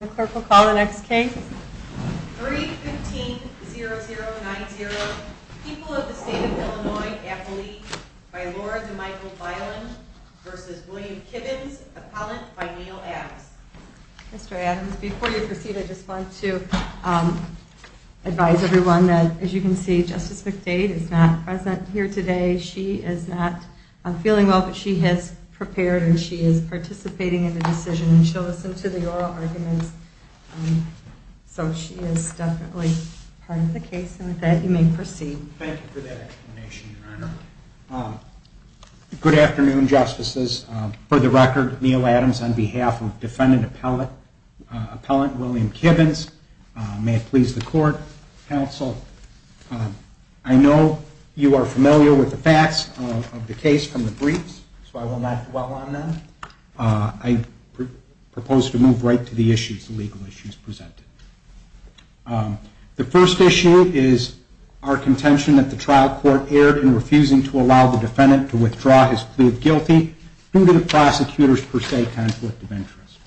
The clerk will call the next case. 3-15-0090. People of the State of Illinois Appellee by Laura DeMichael Byland v. William Kibbons Appellant by Neal Adams. Mr. Adams, before you proceed, I just want to advise everyone that, as you can see, Justice McDade is not present here today. She is not feeling well, but she has prepared, and she is participating in the decision, and she'll listen to the oral arguments, so she is definitely part of the case, and with that, you may proceed. Thank you for that explanation, Your Honor. Good afternoon, Justices. For the record, Neal Adams on behalf of Defendant Appellant William Kibbons. May it please the Court, Counsel, I know you are familiar with the facts of the case from the briefs, so I will not dwell on them. I propose to move right to the issues, the legal issues presented. The first issue is our contention that the trial court erred in refusing to allow the defendant to withdraw his plea of guilty due to the prosecutor's per se conflict of interest.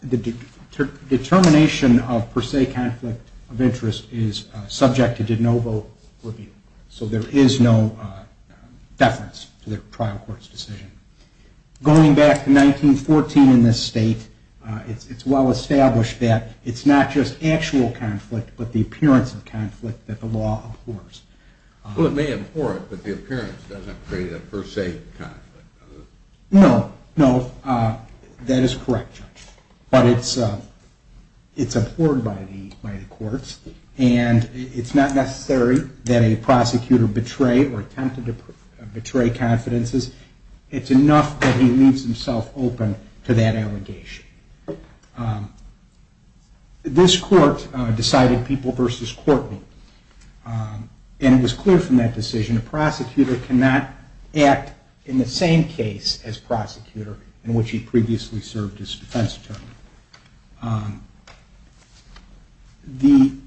The determination of per se conflict of interest is subject to de novo review, so there is no deference to the trial court's decision. Going back to 1914 in this state, it's well established that it's not just actual conflict, but the appearance of conflict that the law abhors. Well, it may abhor it, but the appearance doesn't create a per se conflict. No, no, that is correct, Judge, but it's abhorred by the courts, and it's not necessary that a prosecutor betray or attempted to betray confidences. It's enough that he leaves himself open to that allegation. This court decided people versus court meet, and it was clear from that decision that a prosecutor cannot act in the same case as prosecutor in which he previously served as defense attorney. In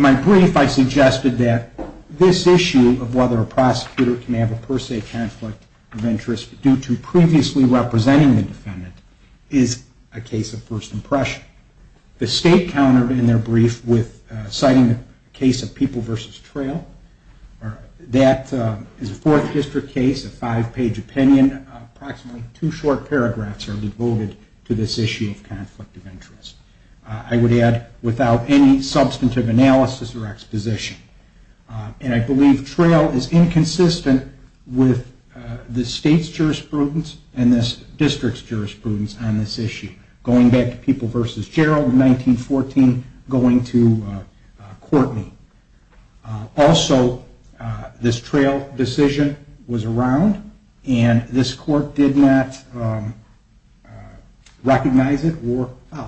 my brief, I suggested that this issue of whether a prosecutor can have a per se conflict of interest due to previously representing the defendant is a case of first impression. The state countered in their brief with citing the case of people versus trail. That is a fourth district case, a five-page opinion. Approximately two short paragraphs are devoted to this issue of conflict of interest. I would add, without any substantive analysis or exposition. I believe trail is inconsistent with the state's jurisprudence and this district's jurisprudence on this issue. Going back to people versus Gerald in 1914, going to Courtney. Also, this trail decision was around, and this court did not recognize it or follow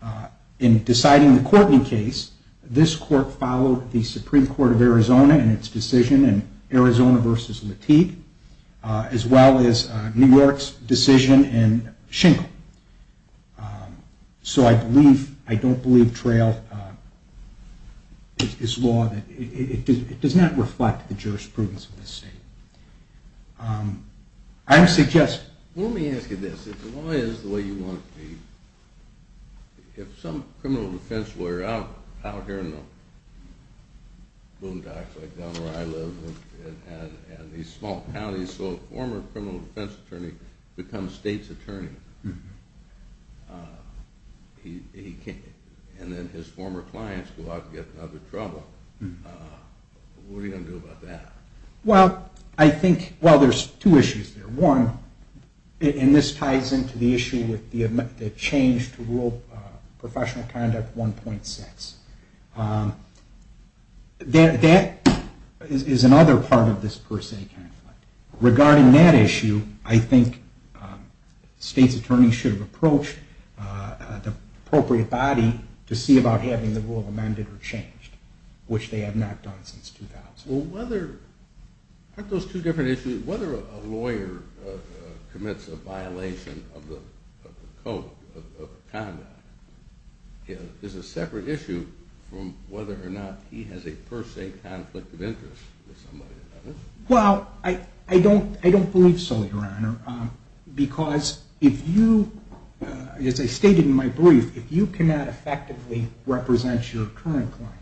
it. In deciding the Courtney case, this court followed the Supreme Court of Arizona in its decision in Arizona versus Lateef, as well as New York's decision in Schenkel. So I don't believe trail is law. It does not reflect the jurisprudence of the state. Let me ask you this. If the law is the way you want it to be, if some criminal defense lawyer out here in the boondocks like down where I live and these small counties saw a former criminal defense attorney become state's attorney and then his former clients go out and get into other trouble, what are you going to do about that? Well, there's two issues there. One, and this ties into the issue with the change to Rural Professional Conduct 1.6. That is another part of this per se conflict. Regarding that issue, I think state's attorneys should approach the appropriate body to see about having the rule amended or changed, which they have not done since 2000. Aren't those two different issues? Whether a lawyer commits a violation of the code of conduct is a separate issue from whether or not he has a per se conflict of interest with somebody or another. Well, I don't believe so, Your Honor, because as I stated in my brief, if you cannot effectively represent your current client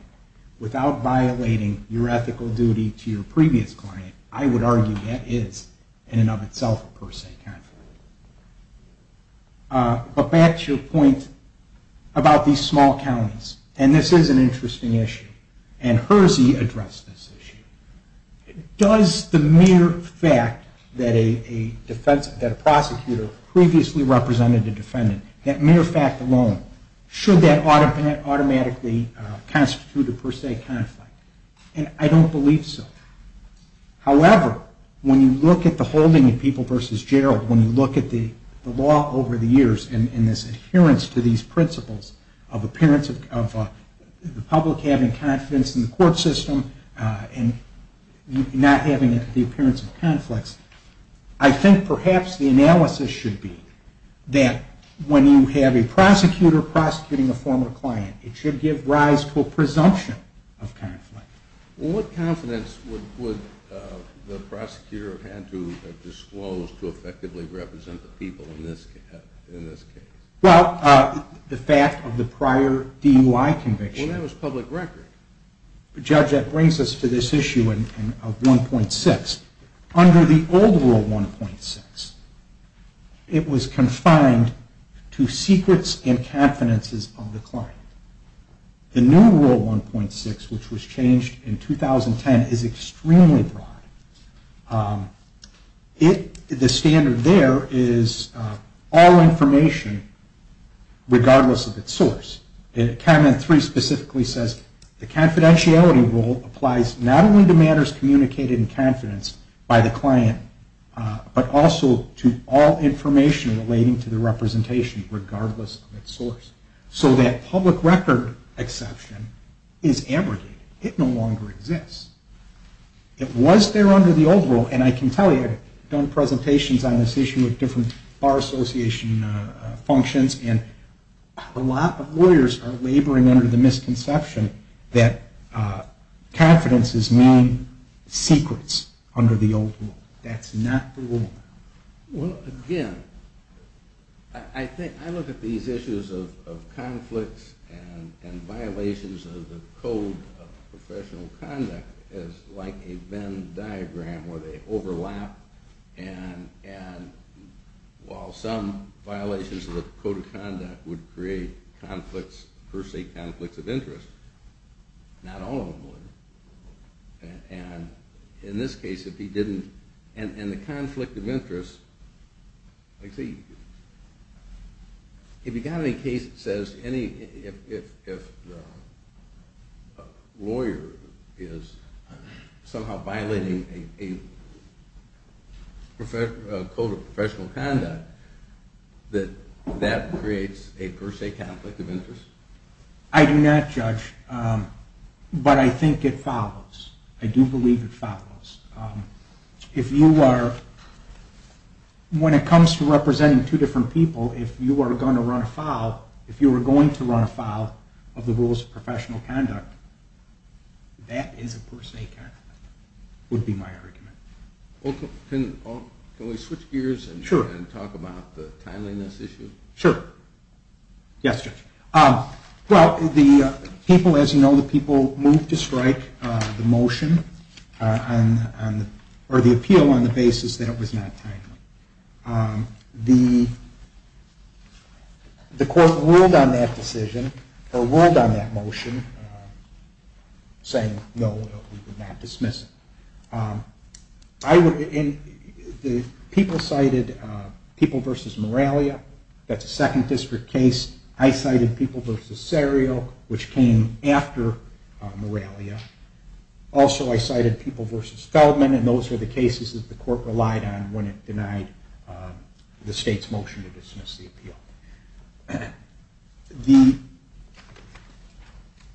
without violating your ethical duty to your previous client, I would argue that is in and of itself a per se conflict. But back to your point about these small counties. And this is an interesting issue. And Hersey addressed this issue. Does the mere fact that a prosecutor previously represented a defendant, that mere fact alone, should that automatically constitute a per se conflict? And I don't believe so. However, when you look at the holding of People v. Gerald, when you look at the law over the years and this adherence to these principles of the public having confidence in the court system and not having the appearance of conflicts, I think perhaps the analysis should be that when you have a prosecutor prosecuting a former client, it should give rise to a presumption of conflict. Well, what confidence would the prosecutor have to disclose to effectively represent the people in this case? Well, the fact of the prior DUI conviction. Well, that was public record. Judge, that brings us to this issue of 1.6. Under the old Rule 1.6, it was confined to secrets and confidences of the client. The new Rule 1.6, which was changed in 2010, is extremely broad. The standard there is all information regardless of its source. Cabinet 3 specifically says the confidentiality rule applies not only to matters communicated in confidence by the client, but also to all information relating to the representation regardless of its source. So that public record exception is abrogated. It no longer exists. It was there under the old Rule, and I can tell you, I've done presentations on this issue with different Bar Association functions, and a lot of lawyers are laboring under the misconception that confidences mean secrets under the old Rule. That's not the Rule. Well, again, I look at these issues of conflicts and violations of the Code of Professional Conduct as like a Venn diagram where they overlap. And while some violations of the Code of Conduct would create conflicts, per se conflicts of interest, not all of them would. And in this case, if he didn't, and the conflict of interest, if you've got a case that says if a lawyer is somehow violating a Code of Professional Conduct, that that creates a per se conflict of interest? I do not judge, but I think it follows. I do believe it follows. If you are, when it comes to representing two different people, if you are going to run afoul of the Rules of Professional Conduct, that is a per se conflict, would be my argument. Can we switch gears and talk about the timeliness issue? Sure. Yes, Judge. Well, the people, as you know, the people moved to strike the motion, or the appeal, on the basis that it was not timely. The court ruled on that decision, or ruled on that motion, saying no, we would not dismiss it. The people cited People v. Moralia. That's a Second District case. I cited People v. Serio, which came after Moralia. Also, I cited People v. Feldman, and those were the cases that the court relied on when it denied the state's motion to dismiss the appeal. The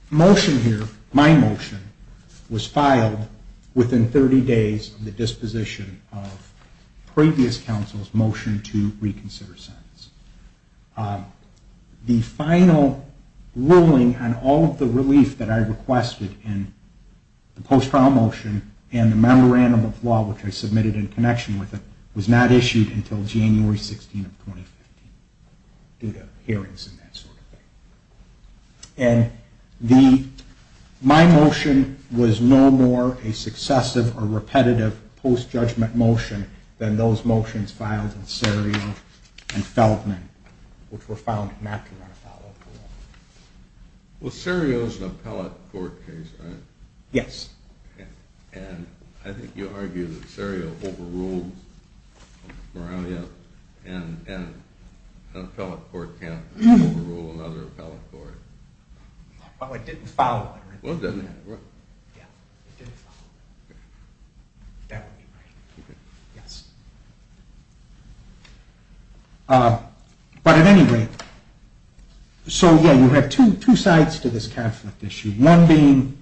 motion here, my motion, was filed within 30 days of the disposition of previous counsel's motion to reconsider sentence. The final ruling on all of the relief that I requested in the post-trial motion and the memorandum of law, which I submitted in connection with it, was not issued until January 16, 2015, due to hearings and that sort of thing. My motion was no more a successive or repetitive post-judgment motion than those motions filed in Serio and Feldman, which were filed after our follow-up ruling. Well, Serio is an appellate court case, right? Yes. And I think you argue that Serio overruled Moralia, and an appellate court can't overrule another appellate court. Well, it didn't follow that. Well, it didn't, right? Yeah, it didn't follow that. That would be right, yes. But at any rate, so, yeah, you have two sides to this conflict issue, one being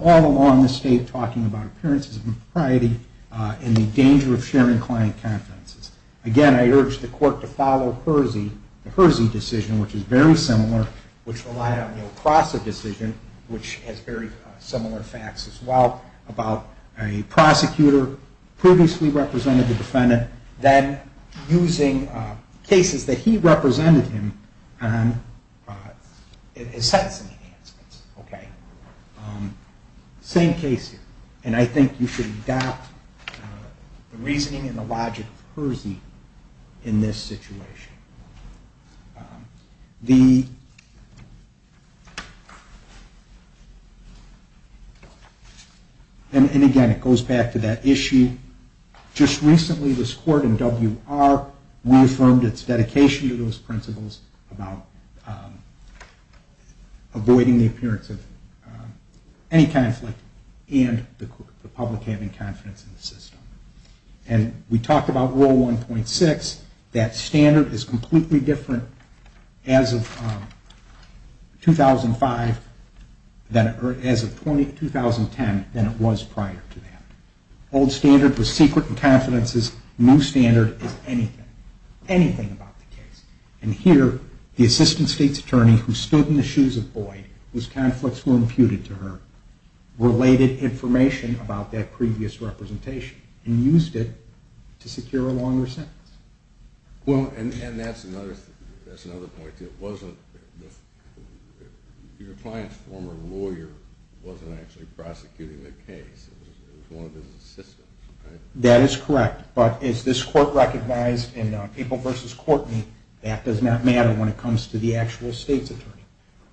all along the state talking about appearances of impropriety and the danger of sharing client confidences. Again, I urge the court to follow Hersey, the Hersey decision, which is very similar, which relied on the Oprasa decision, which has very similar facts as well, about a prosecutor previously represented the defendant, then using cases that he represented him on as sentencing enhancements, okay? Same case here, and I think you should adopt the reasoning and the logic of Hersey in this situation. And again, it goes back to that issue. Just recently, this court in WR reaffirmed its dedication to those principles about avoiding the appearance of any conflict and the public having confidence in the system. And we talked about Rule 1.6, that standard is completely different as of 2005, or as of 2010, than it was prior to that. Old standard was secret confidences, new standard is anything, anything about the case. And here, the assistant state's attorney, who stood in the shoes of Boyd, whose conflicts were imputed to her, related information about that previous representation and used it to secure a longer sentence. Well, and that's another point, too. Your client's former lawyer wasn't actually prosecuting the case, it was one of his assistants, right? That is correct, but as this court recognized in April v. Courtney, that does not matter when it comes to the actual state's attorney.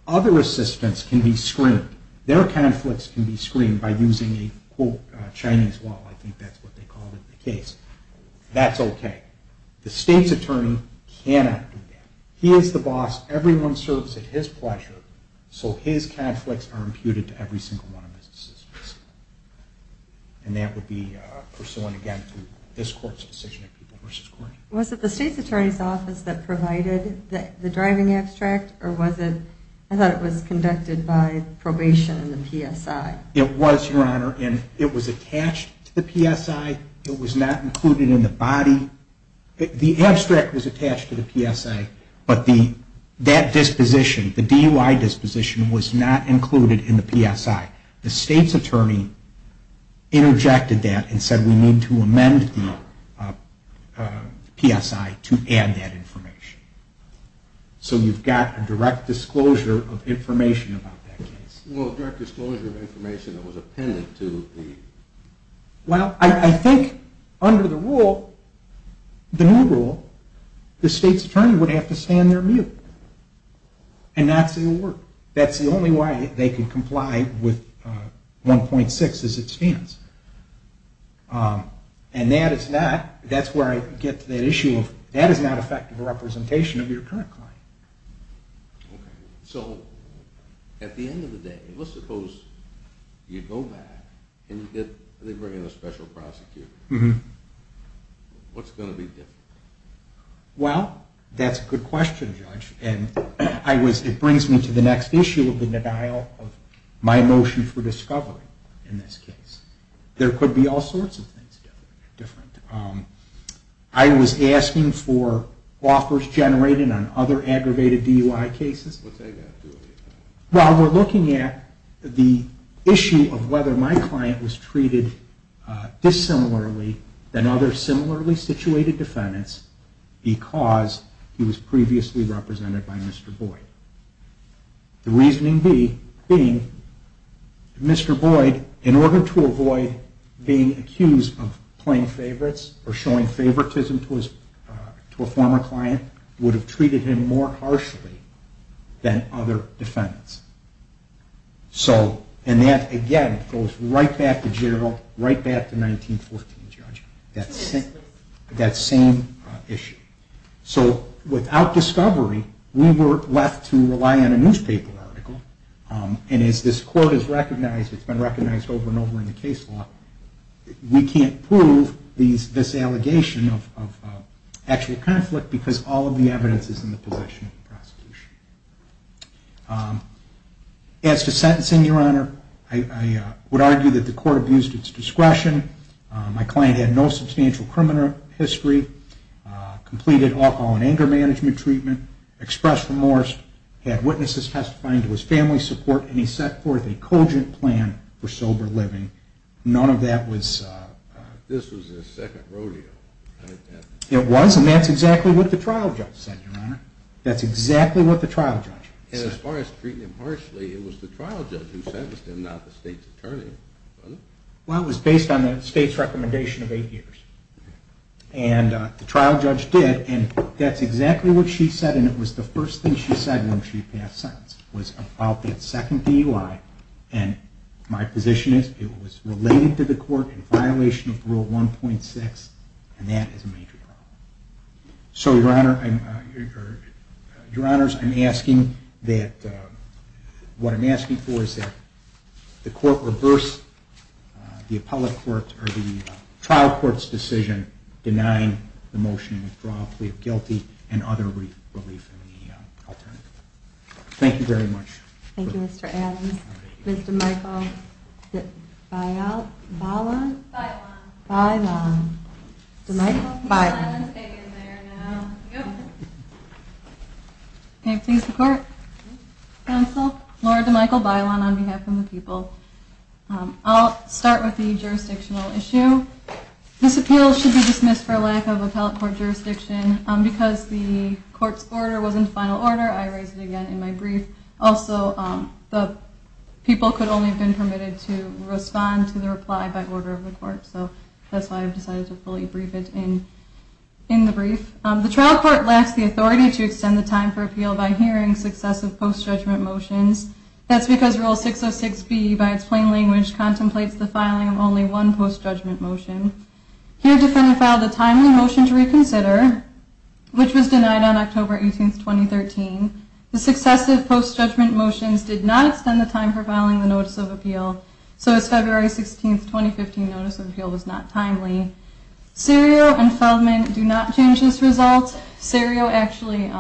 Other assistants can be screened, their conflicts can be screened by using a quote, Chinese wall, I think that's what they called it in the case. That's okay. The state's attorney cannot do that. He is the boss, everyone serves at his pleasure, so his conflicts are imputed to every single one of his assistants. And that would be pursuant, again, to this court's decision in April v. Courtney. Was it the state's attorney's office that provided the driving abstract, or was it, I thought it was conducted by probation in the PSI? It was, Your Honor, and it was attached to the PSI, it was not included in the body. The abstract was attached to the PSI, but that disposition, the DUI disposition, was not included in the PSI. The state's attorney interjected that and said we need to amend the PSI to add that information. So you've got a direct disclosure of information about that case. Well, I think under the rule, the new rule, the state's attorney would have to stand there and not say a word. That's the only way they can comply with 1.6 as it stands. And that is not, that's where I get to that issue of that is not effective representation of your current client. So at the end of the day, let's suppose you go back and they bring in a special prosecutor. What's going to be different? Well, that's a good question, Judge, and it brings me to the next issue of the denial of my motion for discovery in this case. There could be all sorts of things different. I was asking for offers generated on other aggravated DUI cases. While we're looking at the issue of whether my client was treated dissimilarly than other similarly situated defendants, because he was previously represented by Mr. Boyd. The reasoning being that Mr. Boyd, in order to avoid being accused of playing favorites or showing favoritism to a former client, would have treated him more harshly than other defendants. And that, again, goes right back to Gerald, right back to 1914, Judge. That same issue. So without discovery, we were left to rely on a newspaper article. And as this Court has recognized, it's been recognized over and over in the case law, we can't prove this allegation of actual conflict because all of the evidence is in the possession of the prosecution. As to sentencing, Your Honor, I would argue that the Court abused its discretion. My client had no substantial criminal history, completed alcohol and anger management treatment, expressed remorse, had witnesses testifying to his family's support, and he set forth a cogent plan for sober living. None of that was... It was, and that's exactly what the trial judge said, Your Honor. And as far as treating him harshly, it was the trial judge who sentenced him, not the state's attorney. Well, it was based on the state's recommendation of eight years. And the trial judge did, and that's exactly what she said, and it was the first thing she said when she passed sentence. It was about that second DUI, and my position is it was related to the Court in violation of Rule 1.6, and that is a major problem. So, Your Honor, I'm asking that... The trial court's decision denying the motion to withdraw, plea of guilty, and other relief in the alternative. Thank you very much. Can I please report? Counsel, Laura DeMichael Bailon on behalf of the people. I'll start with the jurisdictional issue. This appeal should be dismissed for lack of appellate court jurisdiction. Because the Court's order was in final order, I raised it again in my brief. Also, the people could only have been permitted to respond to the reply by order of the Court, so that's why I've decided to fully brief it in the brief. The trial court lacks the authority to extend the time for appeal by hearing successive post-judgment motions. That's because Rule 606B, by its plain language, contemplates the filing of only one post-judgment motion. Here, Defendant filed a timely motion to reconsider, which was denied on October 18, 2013. The successive post-judgment motions did not extend the time for filing the Notice of Appeal. So, as February 16, 2015, Notice of Appeal was not timely. Serio and Feldman do not change this result. Serio actually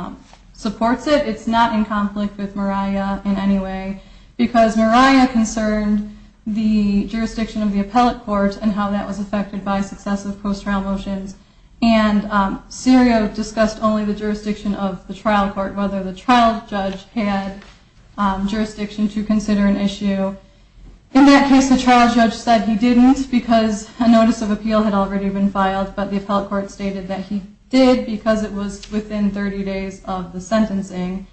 supports it. It's not in conflict with Moriah in any way, because Moriah concerned the jurisdiction of the appellate court and how that was affected by successive post-trial motions. And Serio discussed only the jurisdiction of the trial court, whether the trial judge had jurisdiction to consider an issue. In that case, the trial judge said he didn't, because a Notice of Appeal had already been filed, but the appellate court stated that he did, because it was within 30 days of the sentencing.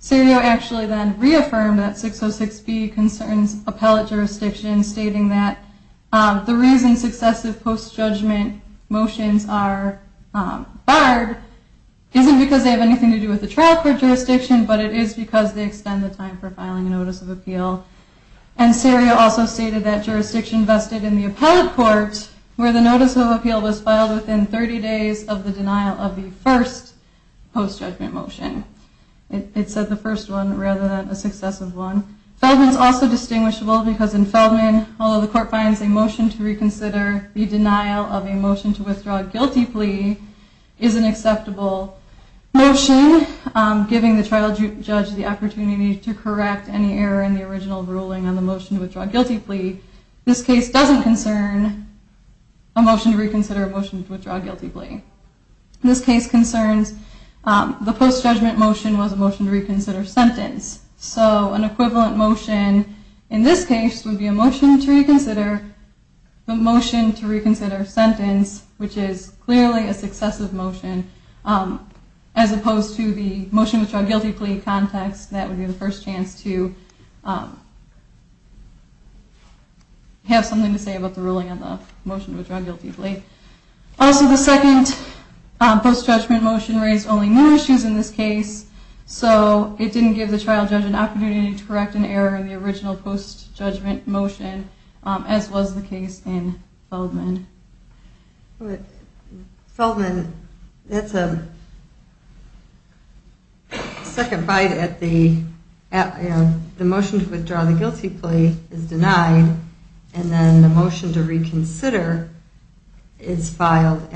Serio actually then reaffirmed that 606B concerns appellate jurisdiction, stating that the reason successive post-judgment motions are barred isn't because they have anything to do with the trial court jurisdiction, but it is because they extend the time for filing a Notice of Appeal. And Serio also stated that jurisdiction vested in the appellate court, where the Notice of Appeal was filed within 30 days of the denial of the first post-judgment motion. It said the first one, rather than a successive one. Feldman is also distinguishable, because in Feldman, although the court finds a motion to reconsider, the denial of a motion to withdraw a guilty plea is an acceptable motion, giving the trial judge the opportunity to correct any error in the original ruling on the motion to withdraw a guilty plea. This case doesn't concern a motion to reconsider or a motion to withdraw a guilty plea. This case concerns the post-judgment motion was a motion to reconsider sentence. So an equivalent motion in this case would be a motion to reconsider, a motion to reconsider sentence, which is clearly a successive motion, as opposed to the motion to withdraw a guilty plea context. That would be the first chance to have something to say about the ruling on the motion to withdraw a guilty plea. Also, the second post-judgment motion raised only more issues in this case, so it didn't give the trial judge an opportunity to correct an error in the original post-judgment motion, as was the case in Feldman. Feldman, that's a second bite at the motion to withdraw the guilty plea is denied, and then the motion to reconsider is filed.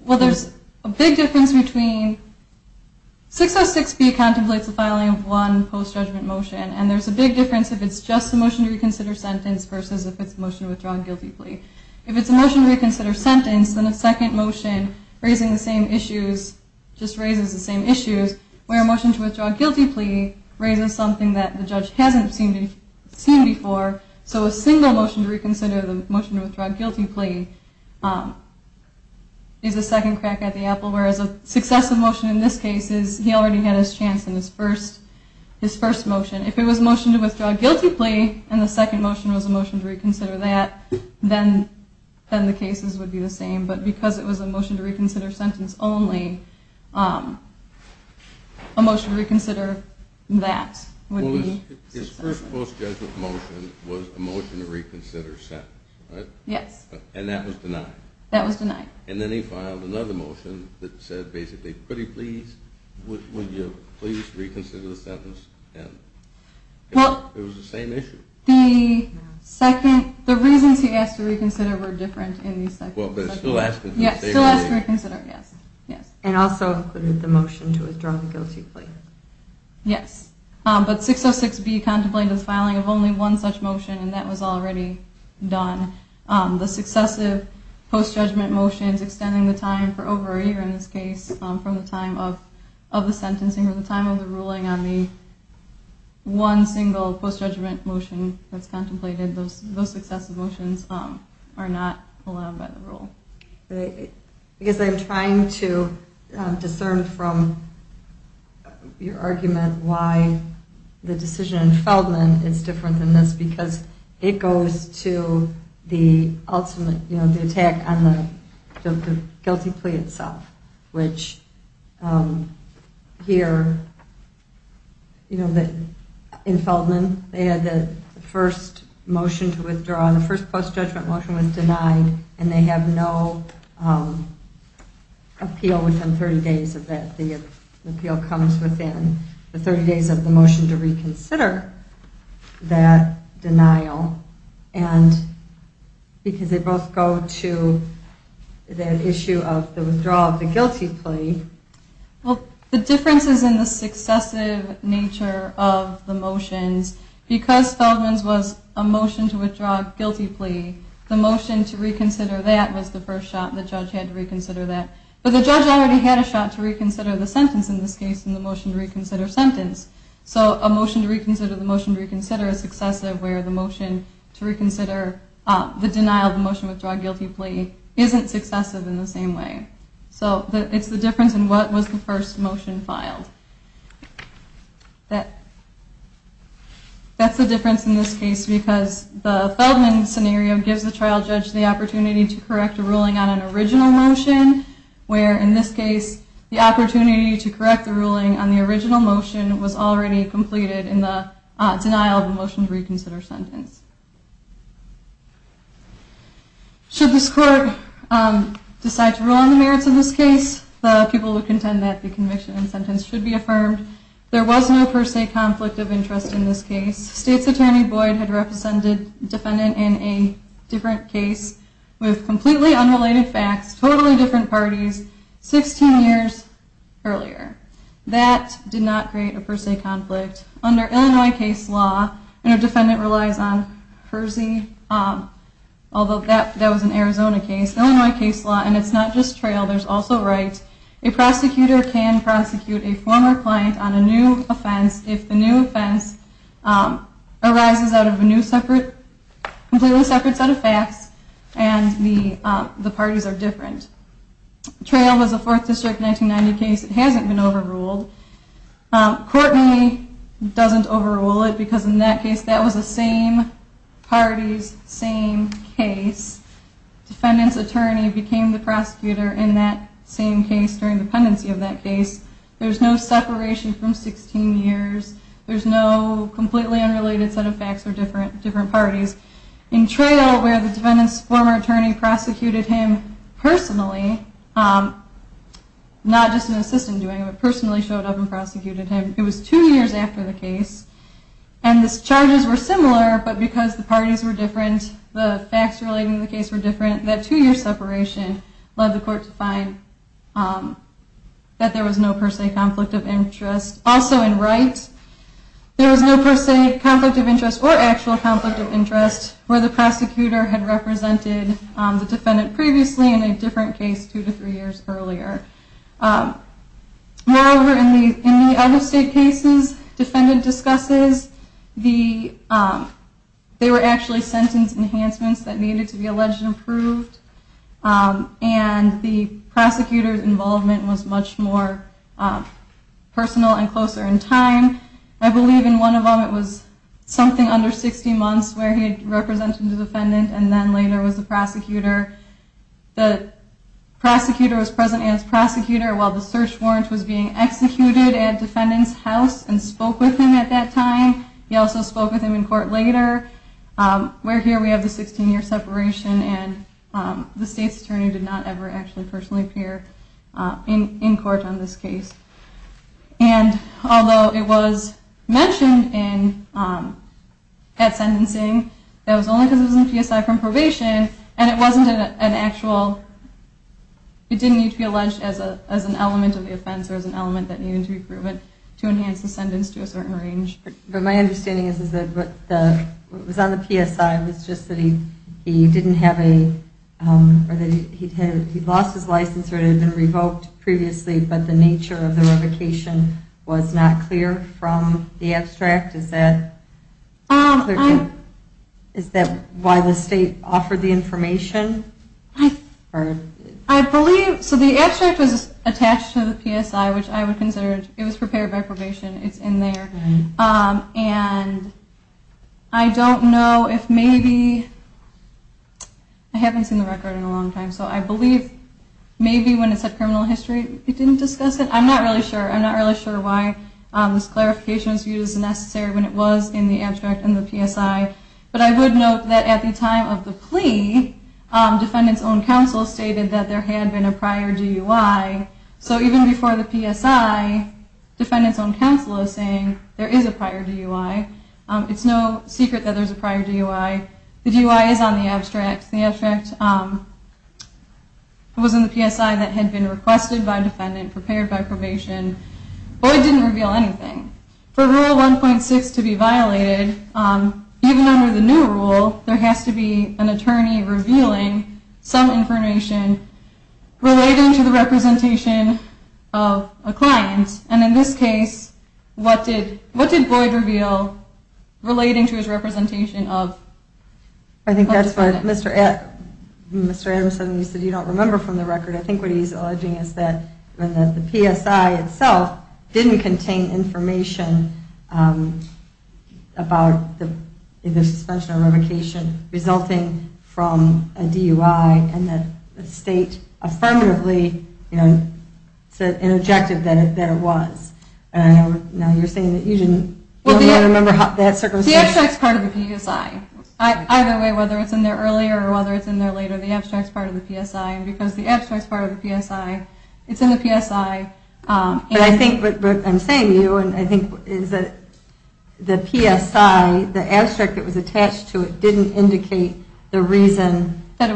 Well, there's a big difference between 6S6B contemplates the filing of one post-judgment motion, and there's a big difference if it's just a motion to reconsider sentence versus if it's a motion to withdraw a guilty plea. If it's a motion to reconsider sentence, then a second motion just raises the same issues, where a motion to withdraw a guilty plea raises something that the judge hasn't seen before, so a single motion to reconsider the motion to withdraw a guilty plea is a second crack at the apple, whereas a successive motion in this case is he already had his chance in his first motion. If it was a motion to withdraw a guilty plea and the second motion was a motion to reconsider that, then the cases would be the same, but because it was a motion to reconsider sentence only, a motion to reconsider that would be. His first post-judgment motion was a motion to reconsider sentence, right? Yes. And that was denied? That was denied. And then he filed another motion that said basically, pretty please, would you please reconsider the sentence, and it was the same issue. The reasons he asked to reconsider were different in these sections. Well, but it still asked to reconsider. Yes, it still asked to reconsider, yes. And also included the motion to withdraw the guilty plea. Yes, but 606B contemplated the filing of only one such motion, and that was already done. The successive post-judgment motions extending the time for over a year in this case from the time of the sentencing or the time of the ruling on the one single post-judgment motion that's contemplated, those successive motions are not allowed by the rule. Because I'm trying to discern from your argument why the decision in Feldman is different than this because it goes to the ultimate, you know, the attack on the guilty plea itself, which here, you know, in Feldman they had the first motion to withdraw. The first post-judgment motion was denied, and they have no appeal within 30 days of that. The appeal comes within the 30 days of the motion to reconsider that denial, and because they both go to that issue of the withdrawal of the guilty plea. Well, the difference is in the successive nature of the motions. Because Feldman's was a motion to withdraw a guilty plea, the motion to reconsider that was the first shot. The judge had to reconsider that. But the judge already had a shot to reconsider the sentence in this case in the motion to reconsider sentence. So a motion to reconsider the motion to reconsider is successive, where the motion to reconsider the denial of the motion to withdraw a guilty plea isn't successive in the same way. So it's the difference in what was the first motion filed. That's the difference in this case because the Feldman scenario gives the trial judge the opportunity to correct a ruling on an original motion where, in this case, the opportunity to correct the ruling on the original motion was already completed in the denial of the motion to reconsider sentence. Should this court decide to rule on the merits of this case, the people who contend that the conviction and sentence should be affirmed. There was no per se conflict of interest in this case. State's attorney Boyd had represented a defendant in a different case with completely unrelated facts, totally different parties, 16 years earlier. That did not create a per se conflict. Under Illinois case law, when a defendant relies on per se, although that was an Arizona case, Illinois case law, and it's not just trial, there's also right, a prosecutor can prosecute a former client on a new offense if the new offense arises out of a completely separate set of facts and the parties are different. Trail was a 4th District 1990 case. It hasn't been overruled. Courtney doesn't overrule it because in that case that was the same party's same case. Defendant's attorney became the prosecutor in that same case during the pendency of that case. There's no separation from 16 years. There's no completely unrelated set of facts or different parties. In Trail, where the defendant's former attorney prosecuted him personally, not just an assistant doing it, but personally showed up and prosecuted him, it was two years after the case and the charges were similar, but because the parties were different, the facts relating to the case were different, that two-year separation led the court to find that there was no per se conflict of interest. Also in Right, there was no per se conflict of interest or actual conflict of interest where the prosecutor had represented the defendant previously in a different case two to three years earlier. Moreover, in the other state cases defendant discusses, they were actually sentence enhancements that needed to be alleged and approved, and the prosecutor's involvement was much more personal and closer in time. I believe in one of them it was something under 60 months where he had represented the defendant and then later was the prosecutor. The prosecutor was present as prosecutor while the search warrant was being executed at defendant's house and spoke with him at that time. He also spoke with him in court later, where here we have the 16-year separation and the state's attorney did not ever actually personally appear in court on this case. And although it was mentioned at sentencing, that was only because it was in PSI from probation and it wasn't an actual, it didn't need to be alleged as an element of the offense or as an element that needed to be proven to enhance the sentence to a certain range. But my understanding is that what was on the PSI was just that he didn't have a, or that he'd lost his license or it had been revoked previously, but the nature of the revocation was not clear from the abstract. Is that clear to you? Is that why the state offered the information? I believe, so the abstract was attached to the PSI, which I would consider, it was prepared by probation, it's in there. And I don't know if maybe, I haven't seen the record in a long time, so I believe maybe when it said criminal history it didn't discuss it. I'm not really sure. I'm not really sure why this clarification was used as necessary when it was in the abstract and the PSI. But I would note that at the time of the plea, defendant's own counsel stated that there had been a prior DUI. So even before the PSI, defendant's own counsel is saying there is a prior DUI. It's no secret that there's a prior DUI. The DUI is on the abstract. The abstract was in the PSI that had been requested by defendant, prepared by probation. Boyd didn't reveal anything. For Rule 1.6 to be violated, even under the new rule, there has to be an attorney revealing some information relating to the representation of a client. And in this case, what did Boyd reveal relating to his representation of the defendant? I think that's what Mr. Adams said when he said you don't remember from the record. I think what he's alleging is that the PSI itself didn't contain information about the suspension or revocation resulting from a DUI and that the state affirmatively said in objective that it was. Now you're saying that you don't remember that circumstance. The abstract is part of the PSI. Either way, whether it's in there earlier or whether it's in there later, the abstract is part of the PSI. And because the abstract is part of the PSI, it's in the PSI. But I think what I'm saying to you is that the PSI, the abstract that was attached to it, didn't indicate the reason that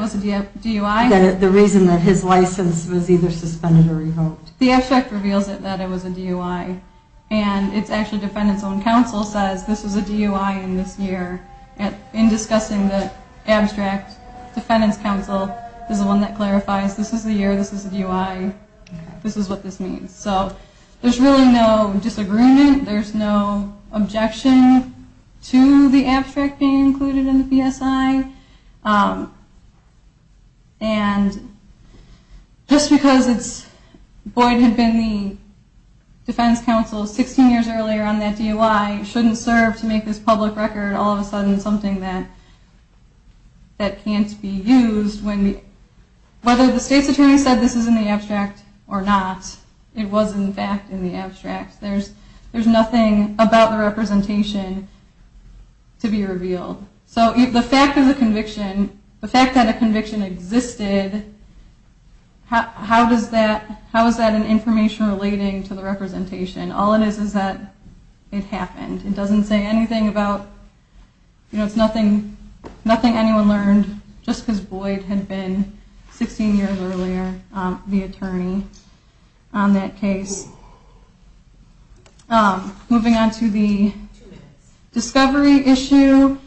his license was either suspended or revoked. The abstract reveals that it was a DUI. And it's actually defendant's own counsel says this was a DUI in this year. In discussing the abstract, defendant's counsel is the one that clarifies this is the year, this is the DUI, this is what this means. So there's really no disagreement. There's no objection to the abstract being included in the PSI. And just because Boyd had been the defense counsel 16 years earlier on that DUI, shouldn't serve to make this public record all of a sudden something that can't be used. Whether the state's attorney said this is in the abstract or not, it was in fact in the abstract. There's nothing about the representation to be revealed. So the fact that a conviction existed, how is that an information relating to the representation? All it is is that it happened. It doesn't say anything about, it's nothing anyone learned just because Boyd had been 16 years earlier the attorney on that case. Moving on to the discovery issue.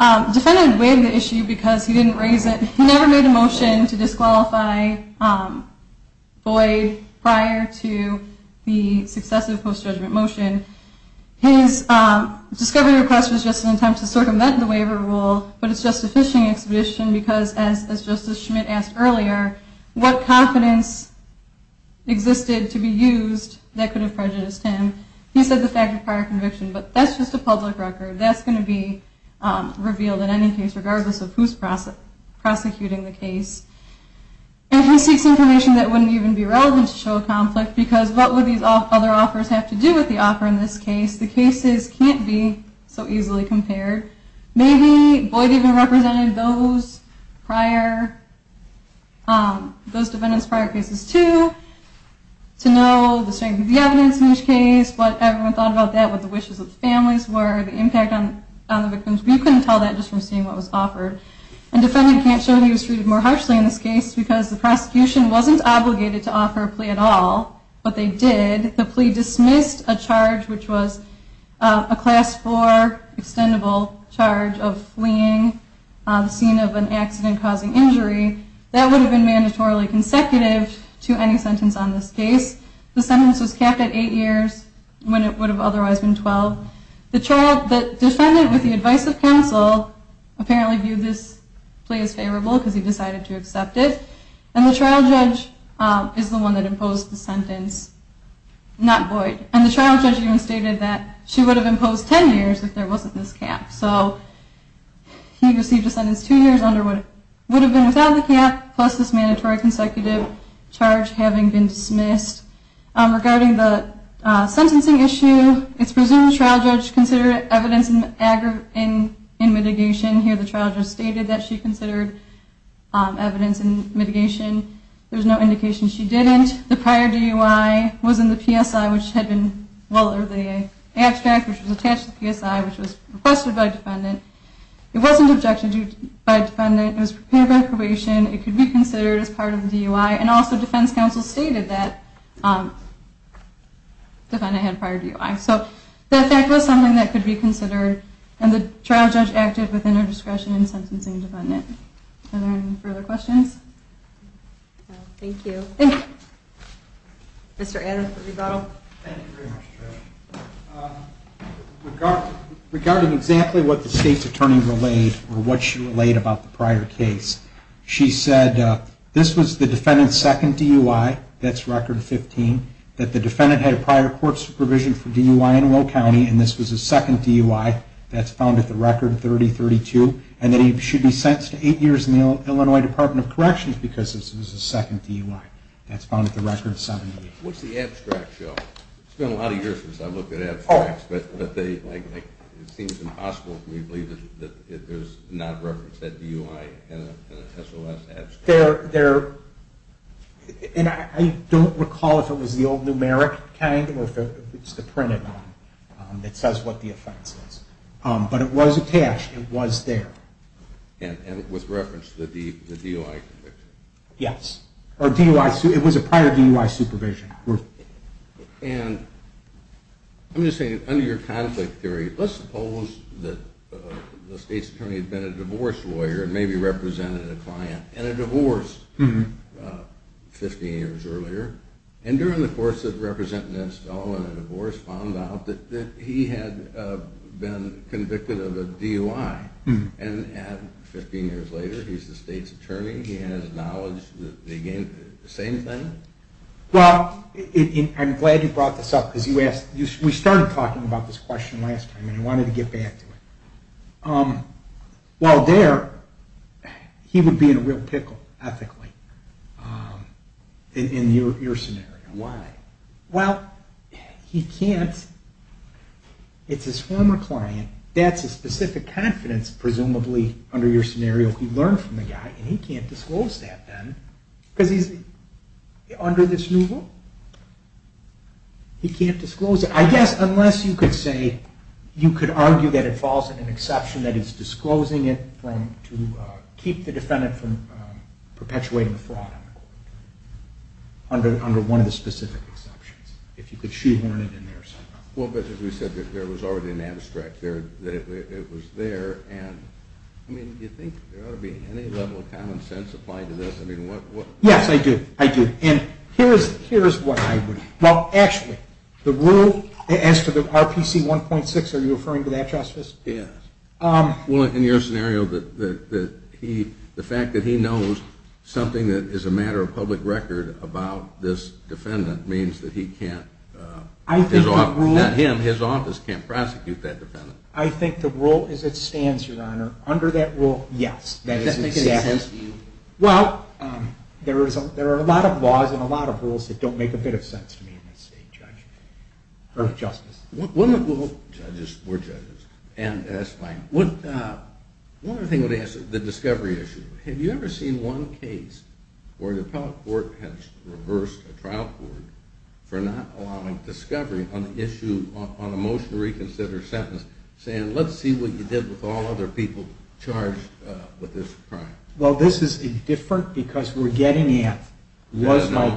Defendant waived the issue because he didn't raise it. He never made a motion to disqualify Boyd prior to the successive post-judgment motion. His discovery request was just an attempt to circumvent the waiver rule, but it's just a fishing expedition because as Justice Schmidt asked earlier, what confidence existed to be used that could have prejudiced him? He said the fact of prior conviction, but that's just a public record. That's going to be revealed in any case regardless of who's prosecuting the case. If he seeks information that wouldn't even be relevant to show a conflict, because what would these other offers have to do with the offer in this case? The cases can't be so easily compared. Maybe Boyd even represented those defendants prior cases too to know the strength of the evidence in each case, what everyone thought about that, what the wishes of the families were, the impact on the victims. We couldn't tell that just from seeing what was offered. Defendant can't show he was treated more harshly in this case because the prosecution wasn't obligated to offer a plea at all, but they did. The plea dismissed a charge which was a class four extendable charge of fleeing the scene of an accident causing injury. That would have been mandatorily consecutive to any sentence on this case. The sentence was capped at eight years when it would have otherwise been 12. The defendant with the advice of counsel apparently viewed this plea as favorable because he decided to accept it, and the trial judge is the one that imposed the sentence, not Boyd. And the trial judge even stated that she would have imposed 10 years if there wasn't this cap. So he received a sentence two years under what would have been without the cap, plus this mandatory consecutive charge having been dismissed. Regarding the sentencing issue, it's presumed the trial judge considered evidence in mitigation. Here the trial judge stated that she considered evidence in mitigation. There's no indication she didn't. The prior DUI was in the PSI, which had been well over the abstract, which was attached to the PSI, which was requested by defendant. It wasn't objected to by defendant. It was prepared for probation. It could be considered as part of the DUI, and also defense counsel stated that defendant had prior DUI. So the effect was something that could be considered, and the trial judge acted within her discretion in sentencing the defendant. Are there any further questions? Thank you. Mr. Anna for rebuttal. Regarding exactly what the state's attorney relayed or what she relayed about the prior case, she said this was the defendant's second DUI, that's record 15, that the defendant had prior court supervision for DUI in Will County, and this was his second DUI, that's found at the record 3032, and that he should be sentenced to eight years in the Illinois Department of Corrections because this was his second DUI. That's found at the record 78. What's the abstract show? It's been a lot of years since I've looked at abstracts, but it seems impossible for me to believe that there's not a reference to that DUI in an SOS abstract. And I don't recall if it was the old numeric kind or if it's the printed one that says what the offense is. But it was attached, it was there. And with reference to the DUI conviction? Yes. It was a prior DUI supervision. And I'm just saying, under your conflict theory, let's suppose that the state's attorney had been a divorce lawyer and maybe represented a client in a divorce 15 years earlier, and during the course of representing this fellow in a divorce found out that he had been convicted of a DUI. And 15 years later, he's the state's attorney, he has knowledge, the same thing? Well, I'm glad you brought this up because we started talking about this question last time and I wanted to get back to it. While there, he would be in a real pickle, ethically, in your scenario. Why? Well, he can't, it's his former client, that's his specific confidence, presumably, under your scenario. He learned from the guy and he can't disclose that then because he's under this new rule. He can't disclose it. I guess unless you could say, you could argue that it falls in an exception that is disclosing it to keep the defendant from perpetuating a fraud under one of the specific exceptions. If you could shoehorn it in there somehow. Well, but as we said, there was already an abstract there, that it was there, and I mean, do you think there ought to be any level of common sense applied to this? Yes, I do. I do. And here's what I would, well, actually, the rule as to the RPC 1.6, are you referring to that, Justice? Yes. Well, in your scenario, the fact that he knows something that is a matter of public record about this defendant means that he can't. Not him, his office can't prosecute that defendant. I think the rule as it stands, Your Honor, under that rule, yes. Does that make any sense to you? Well, there are a lot of laws and a lot of rules that don't make a bit of sense to me in this state, Judge, or Justice. Judges, we're judges, and that's fine. One other thing I would ask is the discovery issue. Have you ever seen one case where the appellate court has reversed a trial court for not allowing discovery on the issue, on a motion to reconsider sentence, saying, let's see what you did with all other people charged with this crime? Well, this is different because we're getting at, was my,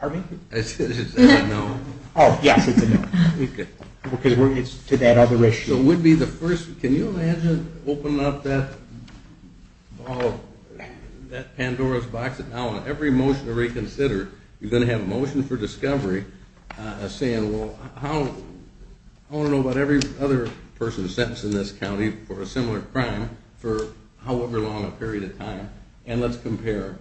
pardon me? It's a no. Oh, yes, it's a no. Okay. Because it's to that other issue. So would be the first, can you imagine opening up that Pandora's box and now on every motion to reconsider, you're going to have a motion for discovery saying, well, how, I want to know about every other person sentenced in this county for a similar crime for however long a period of time, and let's compare.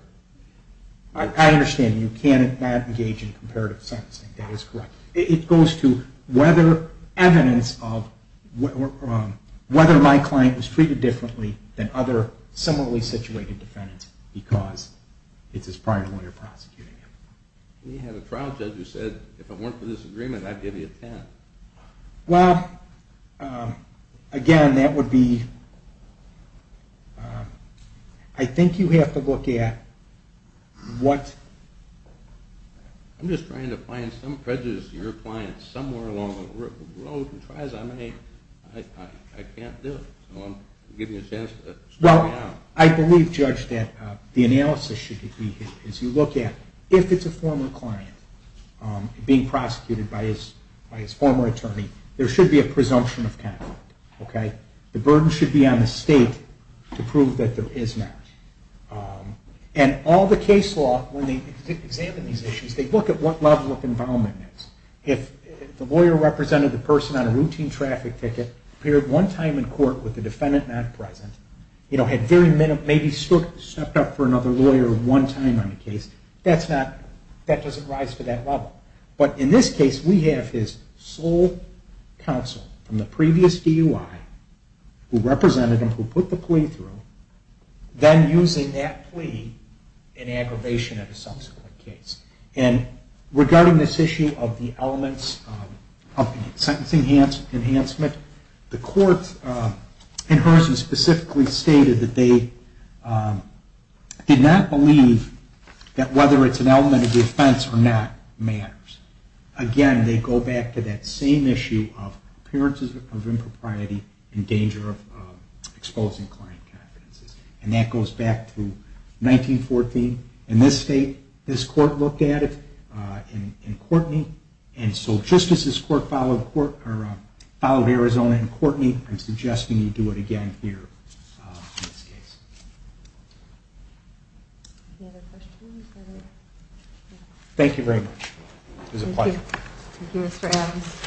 I understand. You cannot engage in comparative sentencing. That is correct. It goes to whether evidence of, whether my client was treated differently than other similarly situated defendants because it's his prior lawyer prosecuting him. We had a trial judge who said, if it weren't for this agreement, I'd give you a 10. Well, again, that would be, I think you have to look at what. I'm just trying to find some prejudice in your client somewhere along the road and try as I may, I can't do it. So I'm giving you a chance to sort it out. I believe, Judge, that the analysis should be, as you look at, if it's a former client being prosecuted by his former attorney, there should be a presumption of conflict. The burden should be on the state to prove that there is not. And all the case law, when they examine these issues, they look at what level of involvement it is. If the lawyer represented the person on a routine traffic ticket, appeared one time in court with the defendant not present, had very maybe stepped up for another lawyer one time on the case, that doesn't rise to that level. But in this case, we have his sole counsel from the previous DUI who represented him, who put the plea through, then using that plea in aggravation at a subsequent case. And regarding this issue of the elements of sentencing enhancement, the courts in Hearson specifically stated that they did not believe that whether it's an element of defense or not matters. Again, they go back to that same issue of appearances of impropriety and danger of exposing client confidences. And that goes back to 1914. In this state, this court looked at it, and Courtney. And so just as this court followed Arizona and Courtney, I'm suggesting you do it again here in this case. Any other questions? Thank you very much. It was a pleasure. Thank you. Thank you, Mr. Adams.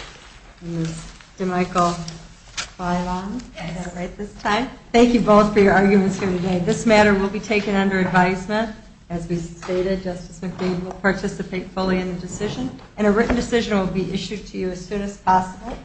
And Ms. DeMichel, file on? Yes. Is that right this time? Thank you both for your arguments here today. This matter will be taken under advisement. As we stated, Justice McLean will participate fully in the decision. And a written decision will be issued to you as soon as possible.